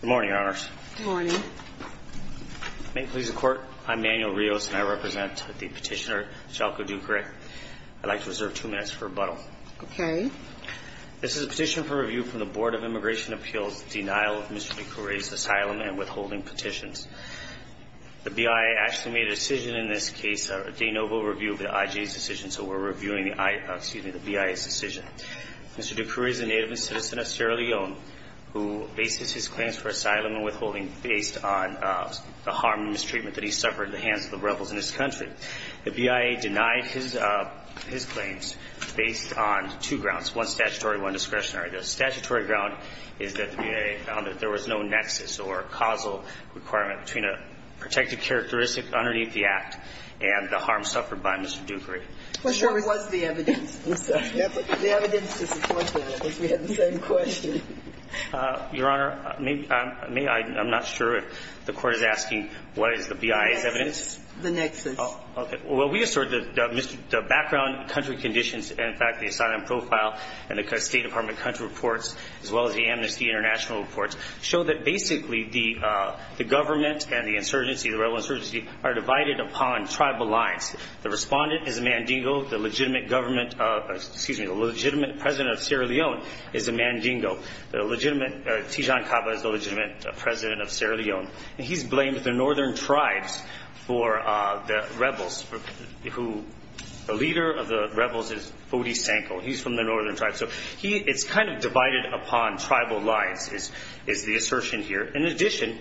Good morning, Your Honors. Good morning. May it please the Court, I'm Manuel Rios, and I represent the petitioner, Jaco Dukuray. I'd like to reserve two minutes for rebuttal. Okay. This is a petition for review from the Board of Immigration Appeals, denial of Mr. Dukuray's asylum and withholding petitions. The BIA actually made a decision in this case, a de novo review of the IJ's decision, so we're reviewing the BIA's decision. Mr. Dukuray is a native and citizen of Sierra Leone who bases his claims for asylum and withholding based on the harm and mistreatment that he suffered at the hands of the rebels in his country. The BIA denied his claims based on two grounds, one statutory and one discretionary. The statutory ground is that the BIA found that there was no nexus or causal requirement between a protected characteristic underneath the act and the harm suffered by Mr. Dukuray. What was the evidence? The evidence to support that, because we had the same question. Your Honor, I'm not sure if the Court is asking what is the BIA's evidence. The nexus. Okay. Well, we assert that the background country conditions and, in fact, the asylum profile and the State Department country reports, as well as the Amnesty International reports, show that basically the government and the insurgency, the rebel insurgency, are divided upon tribal lines. The respondent is a Mandingo. The legitimate government of, excuse me, the legitimate president of Sierra Leone is a Mandingo. The legitimate, Tijan Caba is the legitimate president of Sierra Leone. And he's blamed the northern tribes for the rebels who, the leader of the rebels is Fodi Sanko. He's from the northern tribes. So it's kind of divided upon tribal lines is the assertion here. In addition,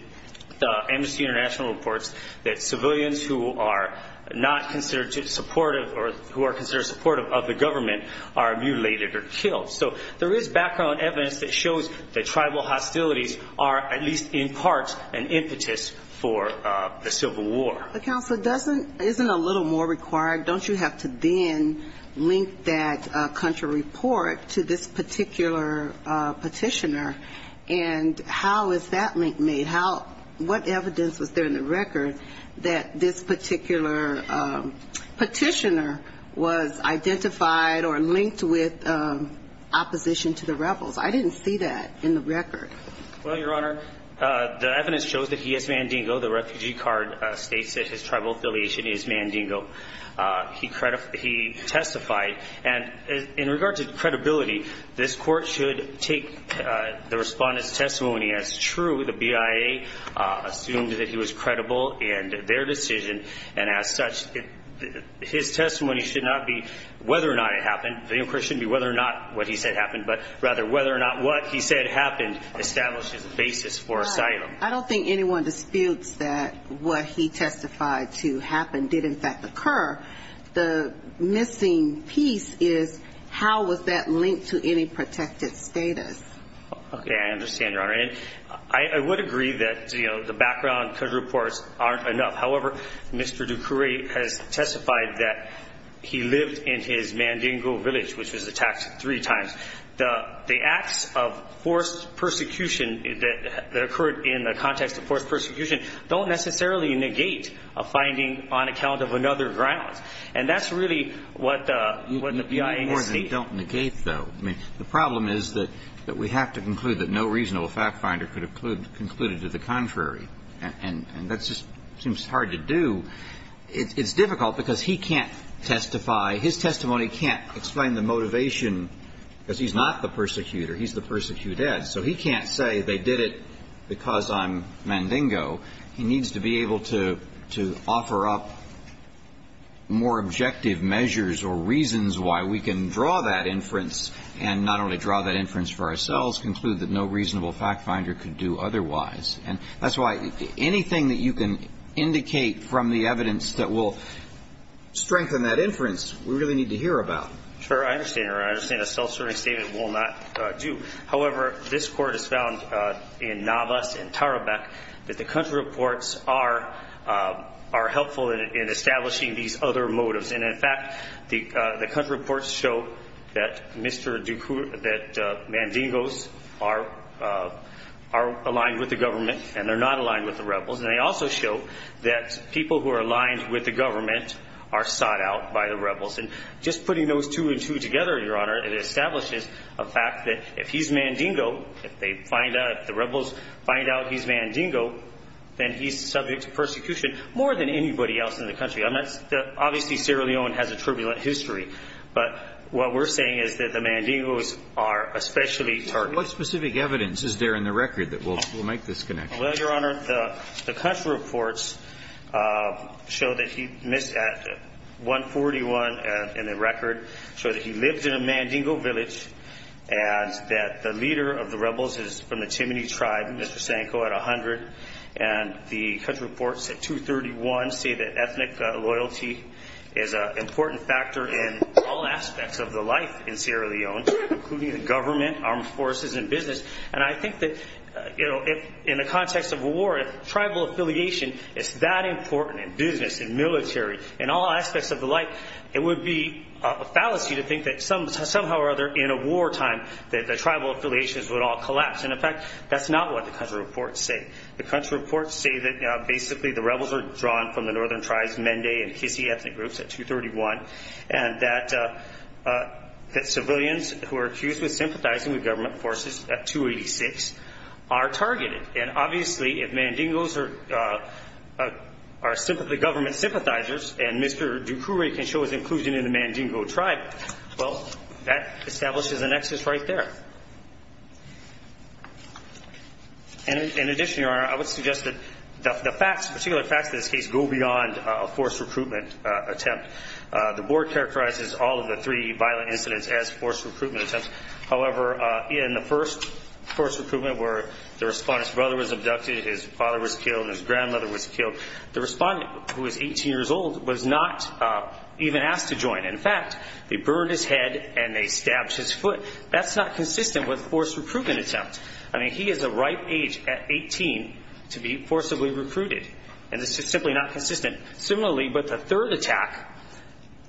the Amnesty International reports that civilians who are not considered supportive or who are considered supportive of the government are mutilated or killed. So there is background evidence that shows that tribal hostilities are, at least in part, an impetus for a civil war. But, counsel, isn't a little more required? Don't you have to then link that country report to this particular petitioner? And how is that link made? What evidence was there in the record that this particular petitioner was identified or linked with opposition to the rebels? I didn't see that in the record. Well, Your Honor, the evidence shows that he is Mandingo. The refugee card states that his tribal affiliation is Mandingo. He testified. And in regard to credibility, this court should take the respondent's testimony as true. The BIA assumed that he was credible in their decision. And as such, his testimony should not be whether or not it happened. The inquiry shouldn't be whether or not what he said happened, but rather whether or not what he said happened established his basis for asylum. I don't think anyone disputes that what he testified to happen did, in fact, occur. The missing piece is how was that linked to any protected status? Okay. I understand, Your Honor. And I would agree that, you know, the background could report aren't enough. However, Mr. Ducourie has testified that he lived in his Mandingo village, which was attacked three times. The acts of forced persecution that occurred in the context of forced persecution don't necessarily negate a finding on account of another ground. And that's really what the BIA is stating. They more than don't negate, though. I mean, the problem is that we have to conclude that no reasonable fact finder could have concluded to the contrary. And that just seems hard to do. It's difficult because he can't testify. His testimony can't explain the motivation, because he's not the persecutor. He's the persecuted. So he can't say they did it because I'm Mandingo. He needs to be able to offer up more objective measures or reasons why we can draw that inference and not only draw that inference for ourselves, conclude that no reasonable fact finder could do otherwise. And that's why anything that you can indicate from the evidence that will strengthen that inference, we really need to hear about. Sure. I understand, Your Honor. I understand a self-serving statement will not do. However, this court has found in Navas and Tarabek that the country reports are helpful in establishing these other motives. And, in fact, the country reports show that Mandingo's are aligned with the government and they're not aligned with the rebels. And they also show that people who are aligned with the government are sought out by the rebels. And just putting those two and two together, Your Honor, it establishes a fact that if he's Mandingo, if the rebels find out he's Mandingo, then he's subject to persecution more than anybody else in the country. Obviously, Sierra Leone has a turbulent history. But what we're saying is that the Mandingos are especially targeted. What specific evidence is there in the record that will make this connection? Well, Your Honor, the country reports show that he missed at 141 in the record, show that he lived in a Mandingo village, and that the leader of the rebels is from the Timini tribe, Mr. Sanko, at 100. And the country reports at 231 say that ethnic loyalty is an important factor in all aspects of the life in Sierra Leone, including the government, armed forces, and business. And I think that, you know, in the context of war, if tribal affiliation is that important in business, in military, in all aspects of the life, it would be a fallacy to think that somehow or other in a wartime that the tribal affiliations would all collapse. And, in fact, that's not what the country reports say. The country reports say that basically the rebels are drawn from the northern tribes, Mende and Hissi ethnic groups at 231, and that civilians who are accused of sympathizing with government forces at 286 are targeted. And, obviously, if Mandingos are government sympathizers and Mr. Ducourie can show his inclusion in the Mandingo tribe, well, that establishes a nexus right there. And, in addition, Your Honor, I would suggest that the facts, particular facts of this case, go beyond a forced recruitment attempt. The board characterizes all of the three violent incidents as forced recruitment attempts. However, in the first forced recruitment where the respondent's brother was abducted, his father was killed, his grandmother was killed, the respondent, who was 18 years old, was not even asked to join. In fact, they burned his head and they stabbed his foot. That's not consistent with a forced recruitment attempt. I mean, he is a ripe age at 18 to be forcibly recruited. And this is simply not consistent. Similarly, with the third attack,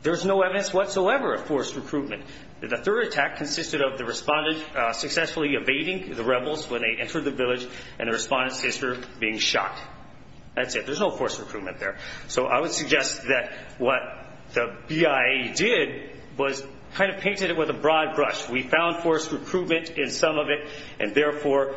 there's no evidence whatsoever of forced recruitment. The third attack consisted of the respondent successfully evading the rebels when they entered the village, and the respondent's sister being shot. That's it. There's no forced recruitment there. So I would suggest that what the BIA did was kind of painted it with a broad brush. We found forced recruitment in some of it, and therefore,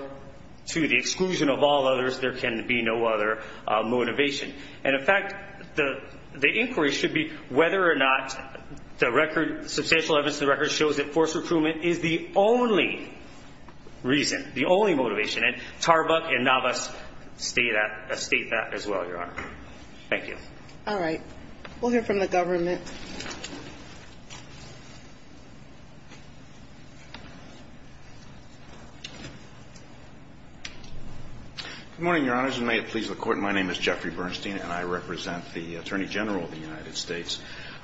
to the exclusion of all others, there can be no other motivation. And, in fact, the inquiry should be whether or not the record, substantial evidence in the record, shows that forced recruitment is the only reason, the only motivation. And Tarbuck and Navas state that as well, Your Honor. Thank you. All right. We'll hear from the government. Good morning, Your Honors, and may it please the Court. My name is Jeffrey Bernstein, and I represent the Attorney General of the United States.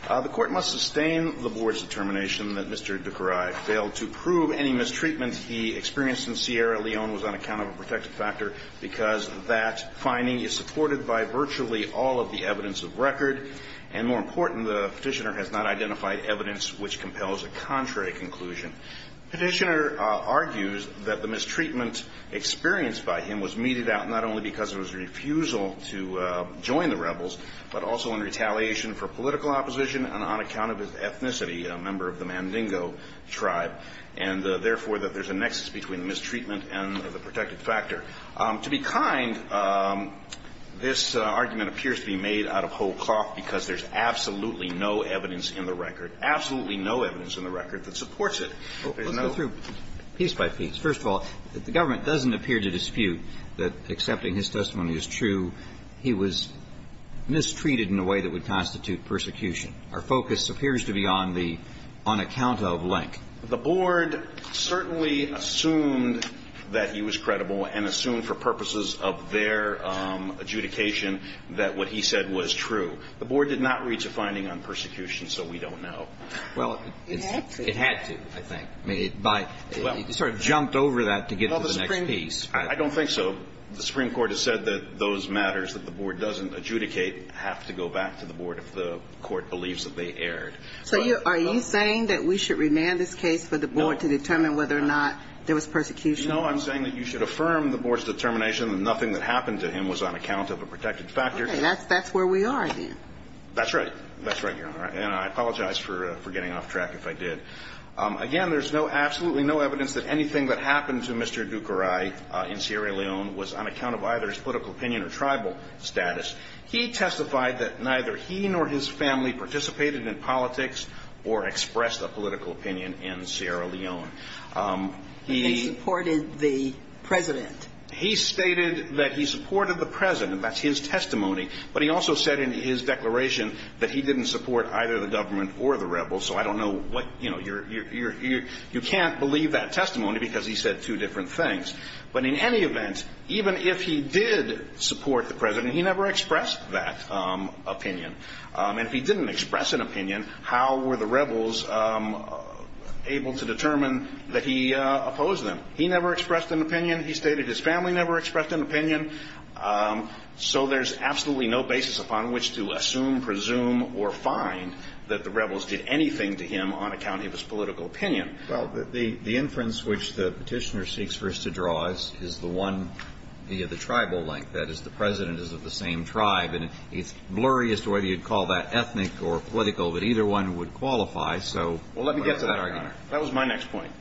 The Court must sustain the Board's determination that Mr. Ducaray failed to prove any mistreatment he experienced in Sierra Leone was on account of a protective factor because that finding is supported by virtually all of the evidence of record. And, more important, the Petitioner has not identified evidence which compels a contrary conclusion. The Petitioner argues that the mistreatment experienced by him was meted out not only because of his refusal to join the rebels, but also in retaliation for political opposition and on account of his ethnicity, a member of the Mandingo tribe, and, therefore, that there's a nexus between mistreatment and the protective factor. To be kind, this argument appears to be made out of whole cloth because there's absolutely no evidence in the record, absolutely no evidence in the record that supports it. Let's go through piece by piece. First of all, if the government doesn't appear to dispute that accepting his testimony is true, he was mistreated in a way that would constitute persecution. Our focus appears to be on the on account of link. The board certainly assumed that he was credible and assumed for purposes of their adjudication that what he said was true. The board did not reach a finding on persecution, so we don't know. Well, it had to, I think. It sort of jumped over that to get to the next piece. I don't think so. The Supreme Court has said that those matters that the board doesn't adjudicate have to go back to the board if the court believes that they erred. So are you saying that we should remand this case for the board to determine whether or not there was persecution? No, I'm saying that you should affirm the board's determination that nothing that happened to him was on account of a protective factor. Okay. That's where we are, then. That's right. That's right, Your Honor. And I apologize for getting off track if I did. Again, there's absolutely no evidence that anything that happened to Mr. Ducaray in Sierra Leone was on account of either his political opinion or tribal status. He testified that neither he nor his family participated in politics or expressed a political opinion in Sierra Leone. He supported the president. He stated that he supported the president. That's his testimony. But he also said in his declaration that he didn't support either the government or the rebels. So I don't know what, you know, you can't believe that testimony because he said two different things. But in any event, even if he did support the president, he never expressed that opinion. And if he didn't express an opinion, how were the rebels able to determine that he opposed them? He never expressed an opinion. He stated his family never expressed an opinion. So there's absolutely no basis upon which to assume, presume, or find that the rebels did anything to him on account of his political opinion. Well, the inference which the Petitioner seeks for us to draw is the one, the tribal link. That is, the president is of the same tribe. And it's blurry as to whether you'd call that ethnic or political, but either one would qualify. So where is that argument? Well, let me get to that, Your Honor. That was my next point.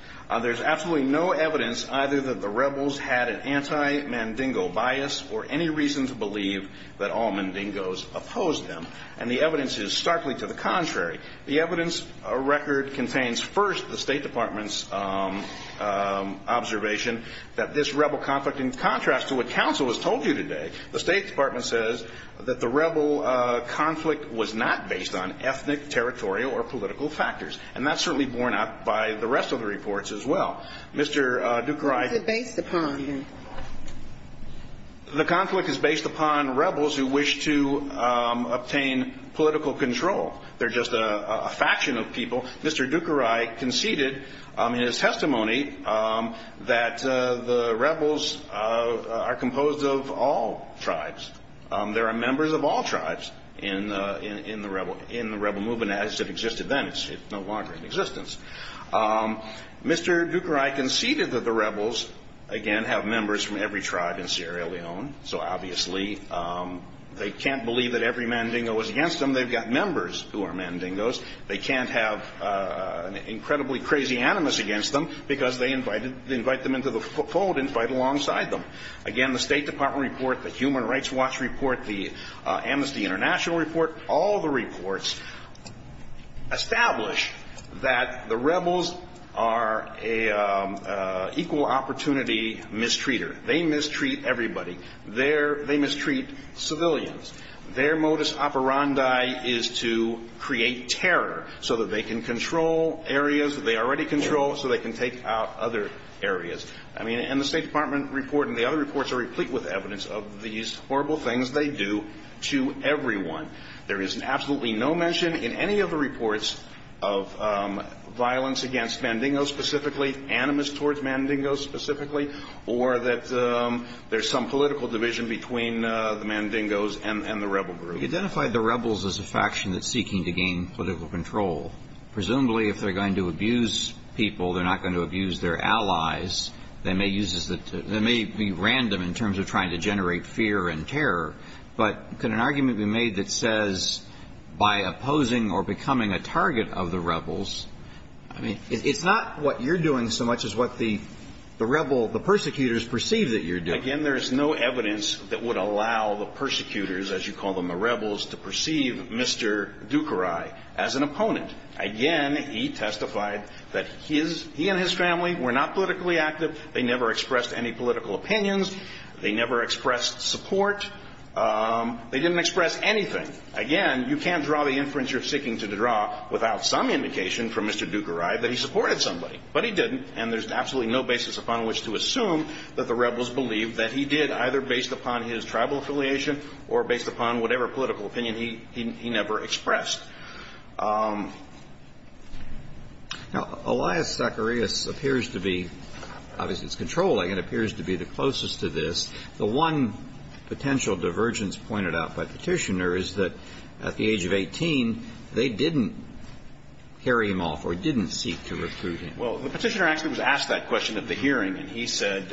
There's absolutely no evidence either that the rebels had an anti-Mandingo bias or any reason to believe that all Mandingos opposed them. And the evidence is starkly to the contrary. The evidence record contains, first, the State Department's observation that this rebel conflict, in contrast to what counsel has told you today, the State Department says that the rebel conflict was not based on ethnic, territorial, or political factors. And that's certainly borne out by the rest of the reports as well. Mr. Ducroix ---- What's it based upon? The conflict is based upon rebels who wish to obtain political control. They're just a faction of people. Mr. Ducroix conceded in his testimony that the rebels are composed of all tribes. There are members of all tribes in the rebel movement as it existed then. It's no longer in existence. Mr. Ducroix conceded that the rebels, again, have members from every tribe in Sierra Leone. So, obviously, they can't believe that every Mandingo is against them. They've got members who are Mandingos. They can't have an incredibly crazy animus against them because they invite them into the fold and fight alongside them. Again, the State Department report, the Human Rights Watch report, the Amnesty International report, all the reports establish that the rebels are an equal opportunity mistreater. They mistreat everybody. They mistreat civilians. Their modus operandi is to create terror so that they can control areas that they already control so they can take out other areas. I mean, and the State Department report and the other reports are replete with evidence of these horrible things they do to everyone. There is absolutely no mention in any of the reports of violence against Mandingos specifically, animus towards Mandingos specifically, or that there's some political division between the Mandingos and the rebel group. We identified the rebels as a faction that's seeking to gain political control. Presumably, if they're going to abuse people, they're not going to abuse their allies. They may use this to – they may be random in terms of trying to generate fear and terror, but can an argument be made that says by opposing or becoming a target of the rebels – I mean, it's not what you're doing so much as what the rebel – the persecutors perceive that you're doing. Again, there's no evidence that would allow the persecutors, as you call them, the rebels, to perceive Mr. Dukeray as an opponent. Again, he testified that his – he and his family were not politically active. They never expressed any political opinions. They never expressed support. They didn't express anything. Again, you can't draw the inference you're seeking to draw without some indication from Mr. Dukeray that he supported somebody. But he didn't, and there's absolutely no basis upon which to assume that the rebels believed that he did, either based upon his tribal affiliation or based upon whatever political opinion he never expressed. Now, Elias Zacharias appears to be – obviously, it's controlling and appears to be the closest to this. The one potential divergence pointed out by Petitioner is that at the age of 18, they didn't carry him off or didn't seek to recruit him. Well, the Petitioner actually was asked that question at the hearing, and he said –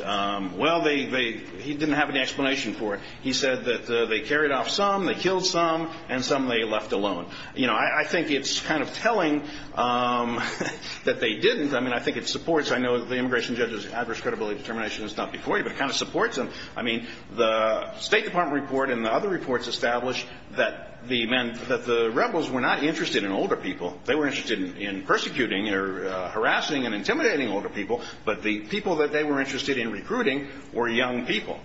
well, they – he didn't have any explanation for it. He said that they carried off some, they killed some, and some they left alone. You know, I think it's kind of telling that they didn't. I mean, I think it supports – I know the immigration judge's adverse credibility determination is not before you, but it kind of supports them. I mean, the State Department report and the other reports established that the rebels were not interested in older people. They were interested in persecuting or harassing and intimidating older people, but the people that they were interested in recruiting were young people,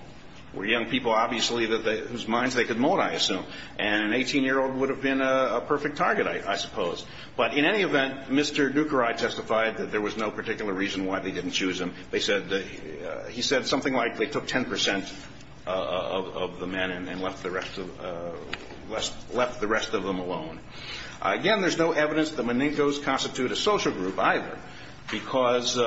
were young people, obviously, whose minds they could mold, I assume. And an 18-year-old would have been a perfect target, I suppose. But in any event, Mr. Dukeray testified that there was no particular reason why they didn't choose him. They said that – he said something like they took 10 percent of the men and left the rest of – left the rest of them alone. Again, there's no evidence that Menencos constitute a social group, either, because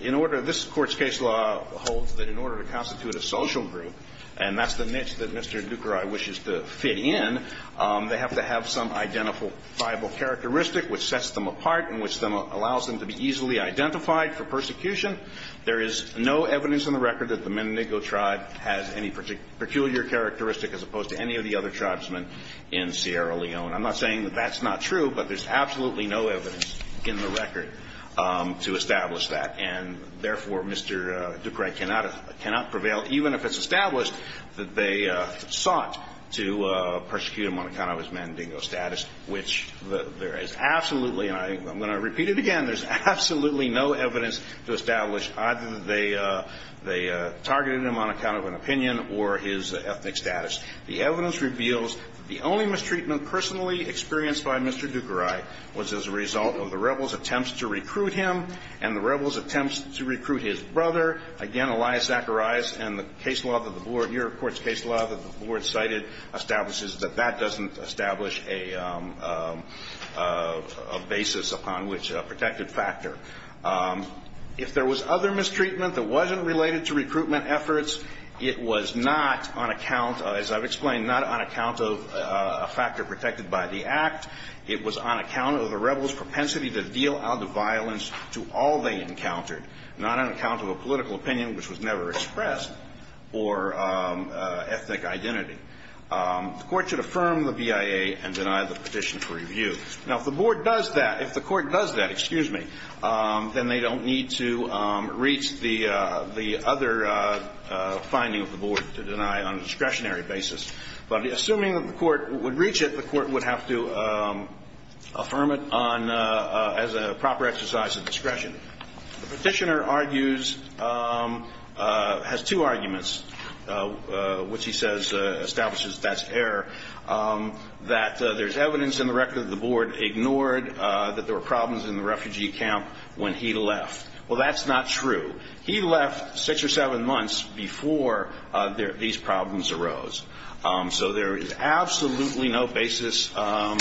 in order – this Court's case law holds that in order to constitute a social group, and that's the niche that Mr. Dukeray wishes to fit in, they have to have some identifiable characteristic which sets them apart and which then allows them to be easily identified for persecution. There is no evidence on the record that the Menenco tribe has any peculiar characteristic as opposed to any of the other tribesmen in Sierra Leone. I'm not saying that that's not true, but there's absolutely no evidence in the record to establish that. And, therefore, Mr. Dukeray cannot – cannot prevail, even if it's established that they sought to persecute him on account of his Menenco status, which there is absolutely – and I'm going to repeat it again – there's absolutely no evidence to establish either that they targeted him on account of an opinion or his ethnic status. The evidence reveals that the only mistreatment personally experienced by Mr. Dukeray was as a result of the rebels' attempts to recruit him and the rebels' attempts to recruit his brother. Again, Elias Zacharias and the case law that the Board – a basis upon which a protected factor. If there was other mistreatment that wasn't related to recruitment efforts, it was not on account – as I've explained, not on account of a factor protected by the Act. It was on account of the rebels' propensity to deal out the violence to all they encountered, not on account of a political opinion, which was never expressed, or ethnic identity. The Court should affirm the BIA and deny the petition for review. Now, if the Board does that – if the Court does that, excuse me, then they don't need to reach the other finding of the Board to deny on a discretionary basis. But assuming that the Court would reach it, the Court would have to affirm it on – as a proper exercise of discretion. The petitioner argues – has two arguments, which he says – establishes that's error. That there's evidence in the record that the Board ignored that there were problems in the refugee camp when he left. Well, that's not true. He left six or seven months before these problems arose. So there is absolutely no basis for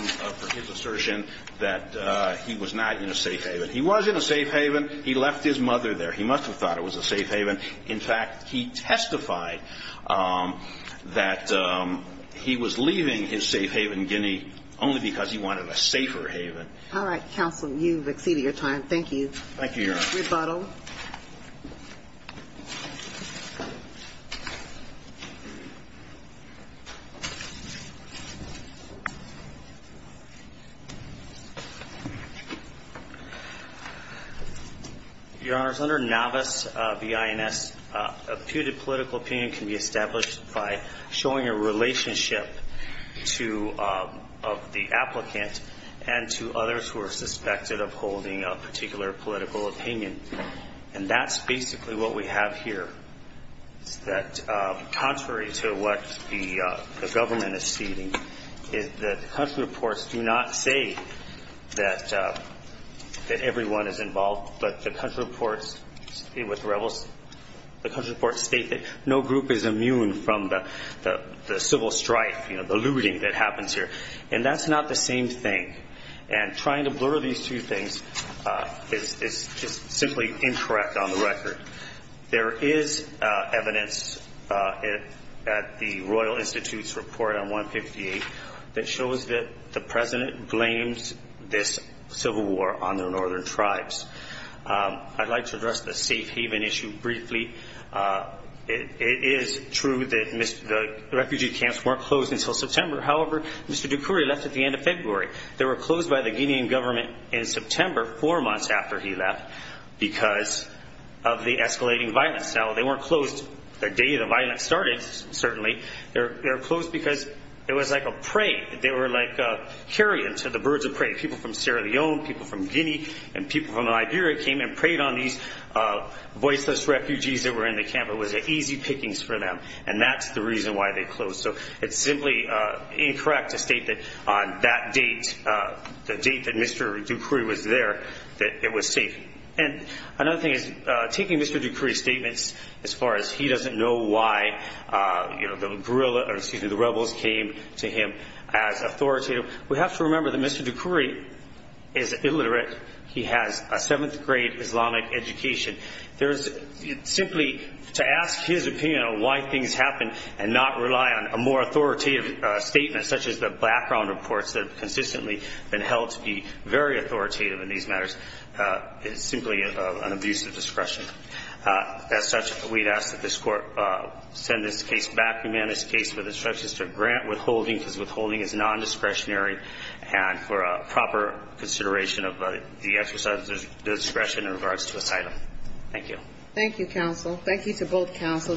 his assertion that he was not in a safe haven. He was in a safe haven. He left his mother there. He must have thought it was a safe haven. In fact, he testified that he was leaving his safe haven, Guinea, only because he wanted a safer haven. All right, counsel. You've exceeded your time. Thank you. Thank you, Your Honor. Rebuttal. Your Honor, under NAVAS B.I.N.S., a putative political opinion can be established by showing a relationship to – of the applicant and to others who are suspected of holding a particular political opinion. And that's basically what we have here, is that contrary to what the government is stating, the country reports do not say that everyone is involved. But the country reports state that no group is immune from the civil strife, you know, the looting that happens here. And that's not the same thing. And trying to blur these two things is just simply incorrect on the record. There is evidence at the Royal Institute's report on 158 that shows that the president blames this civil war on the northern tribes. I'd like to address the safe haven issue briefly. It is true that the refugee camps weren't closed until September. However, Mr. Dukuri left at the end of February. They were closed by the Guinean government in September, four months after he left, because of the escalating violence. Now, they weren't closed the day the violence started, certainly. They were closed because it was like a prey. They were like carrion to the birds of prey. People from Sierra Leone, people from Guinea, and people from Liberia came and preyed on these voiceless refugees that were in the camp. It was easy pickings for them. And that's the reason why they closed. So it's simply incorrect to state that on that date, the date that Mr. Dukuri was there, that it was safe. And another thing is, taking Mr. Dukuri's statements as far as he doesn't know why the guerrilla or, excuse me, the rebels came to him as authoritative, we have to remember that Mr. Dukuri is illiterate. He has a seventh-grade Islamic education. Simply to ask his opinion on why things happen and not rely on a more authoritative statement, such as the background reports that have consistently been held to be very authoritative in these matters, is simply an abuse of discretion. As such, we'd ask that this Court send this case back, amend this case with instructions to grant withholding because withholding is nondiscretionary, and for proper consideration of the exercise of discretion in regards to asylum. Thank you. Thank you, counsel. Thank you to both counsel.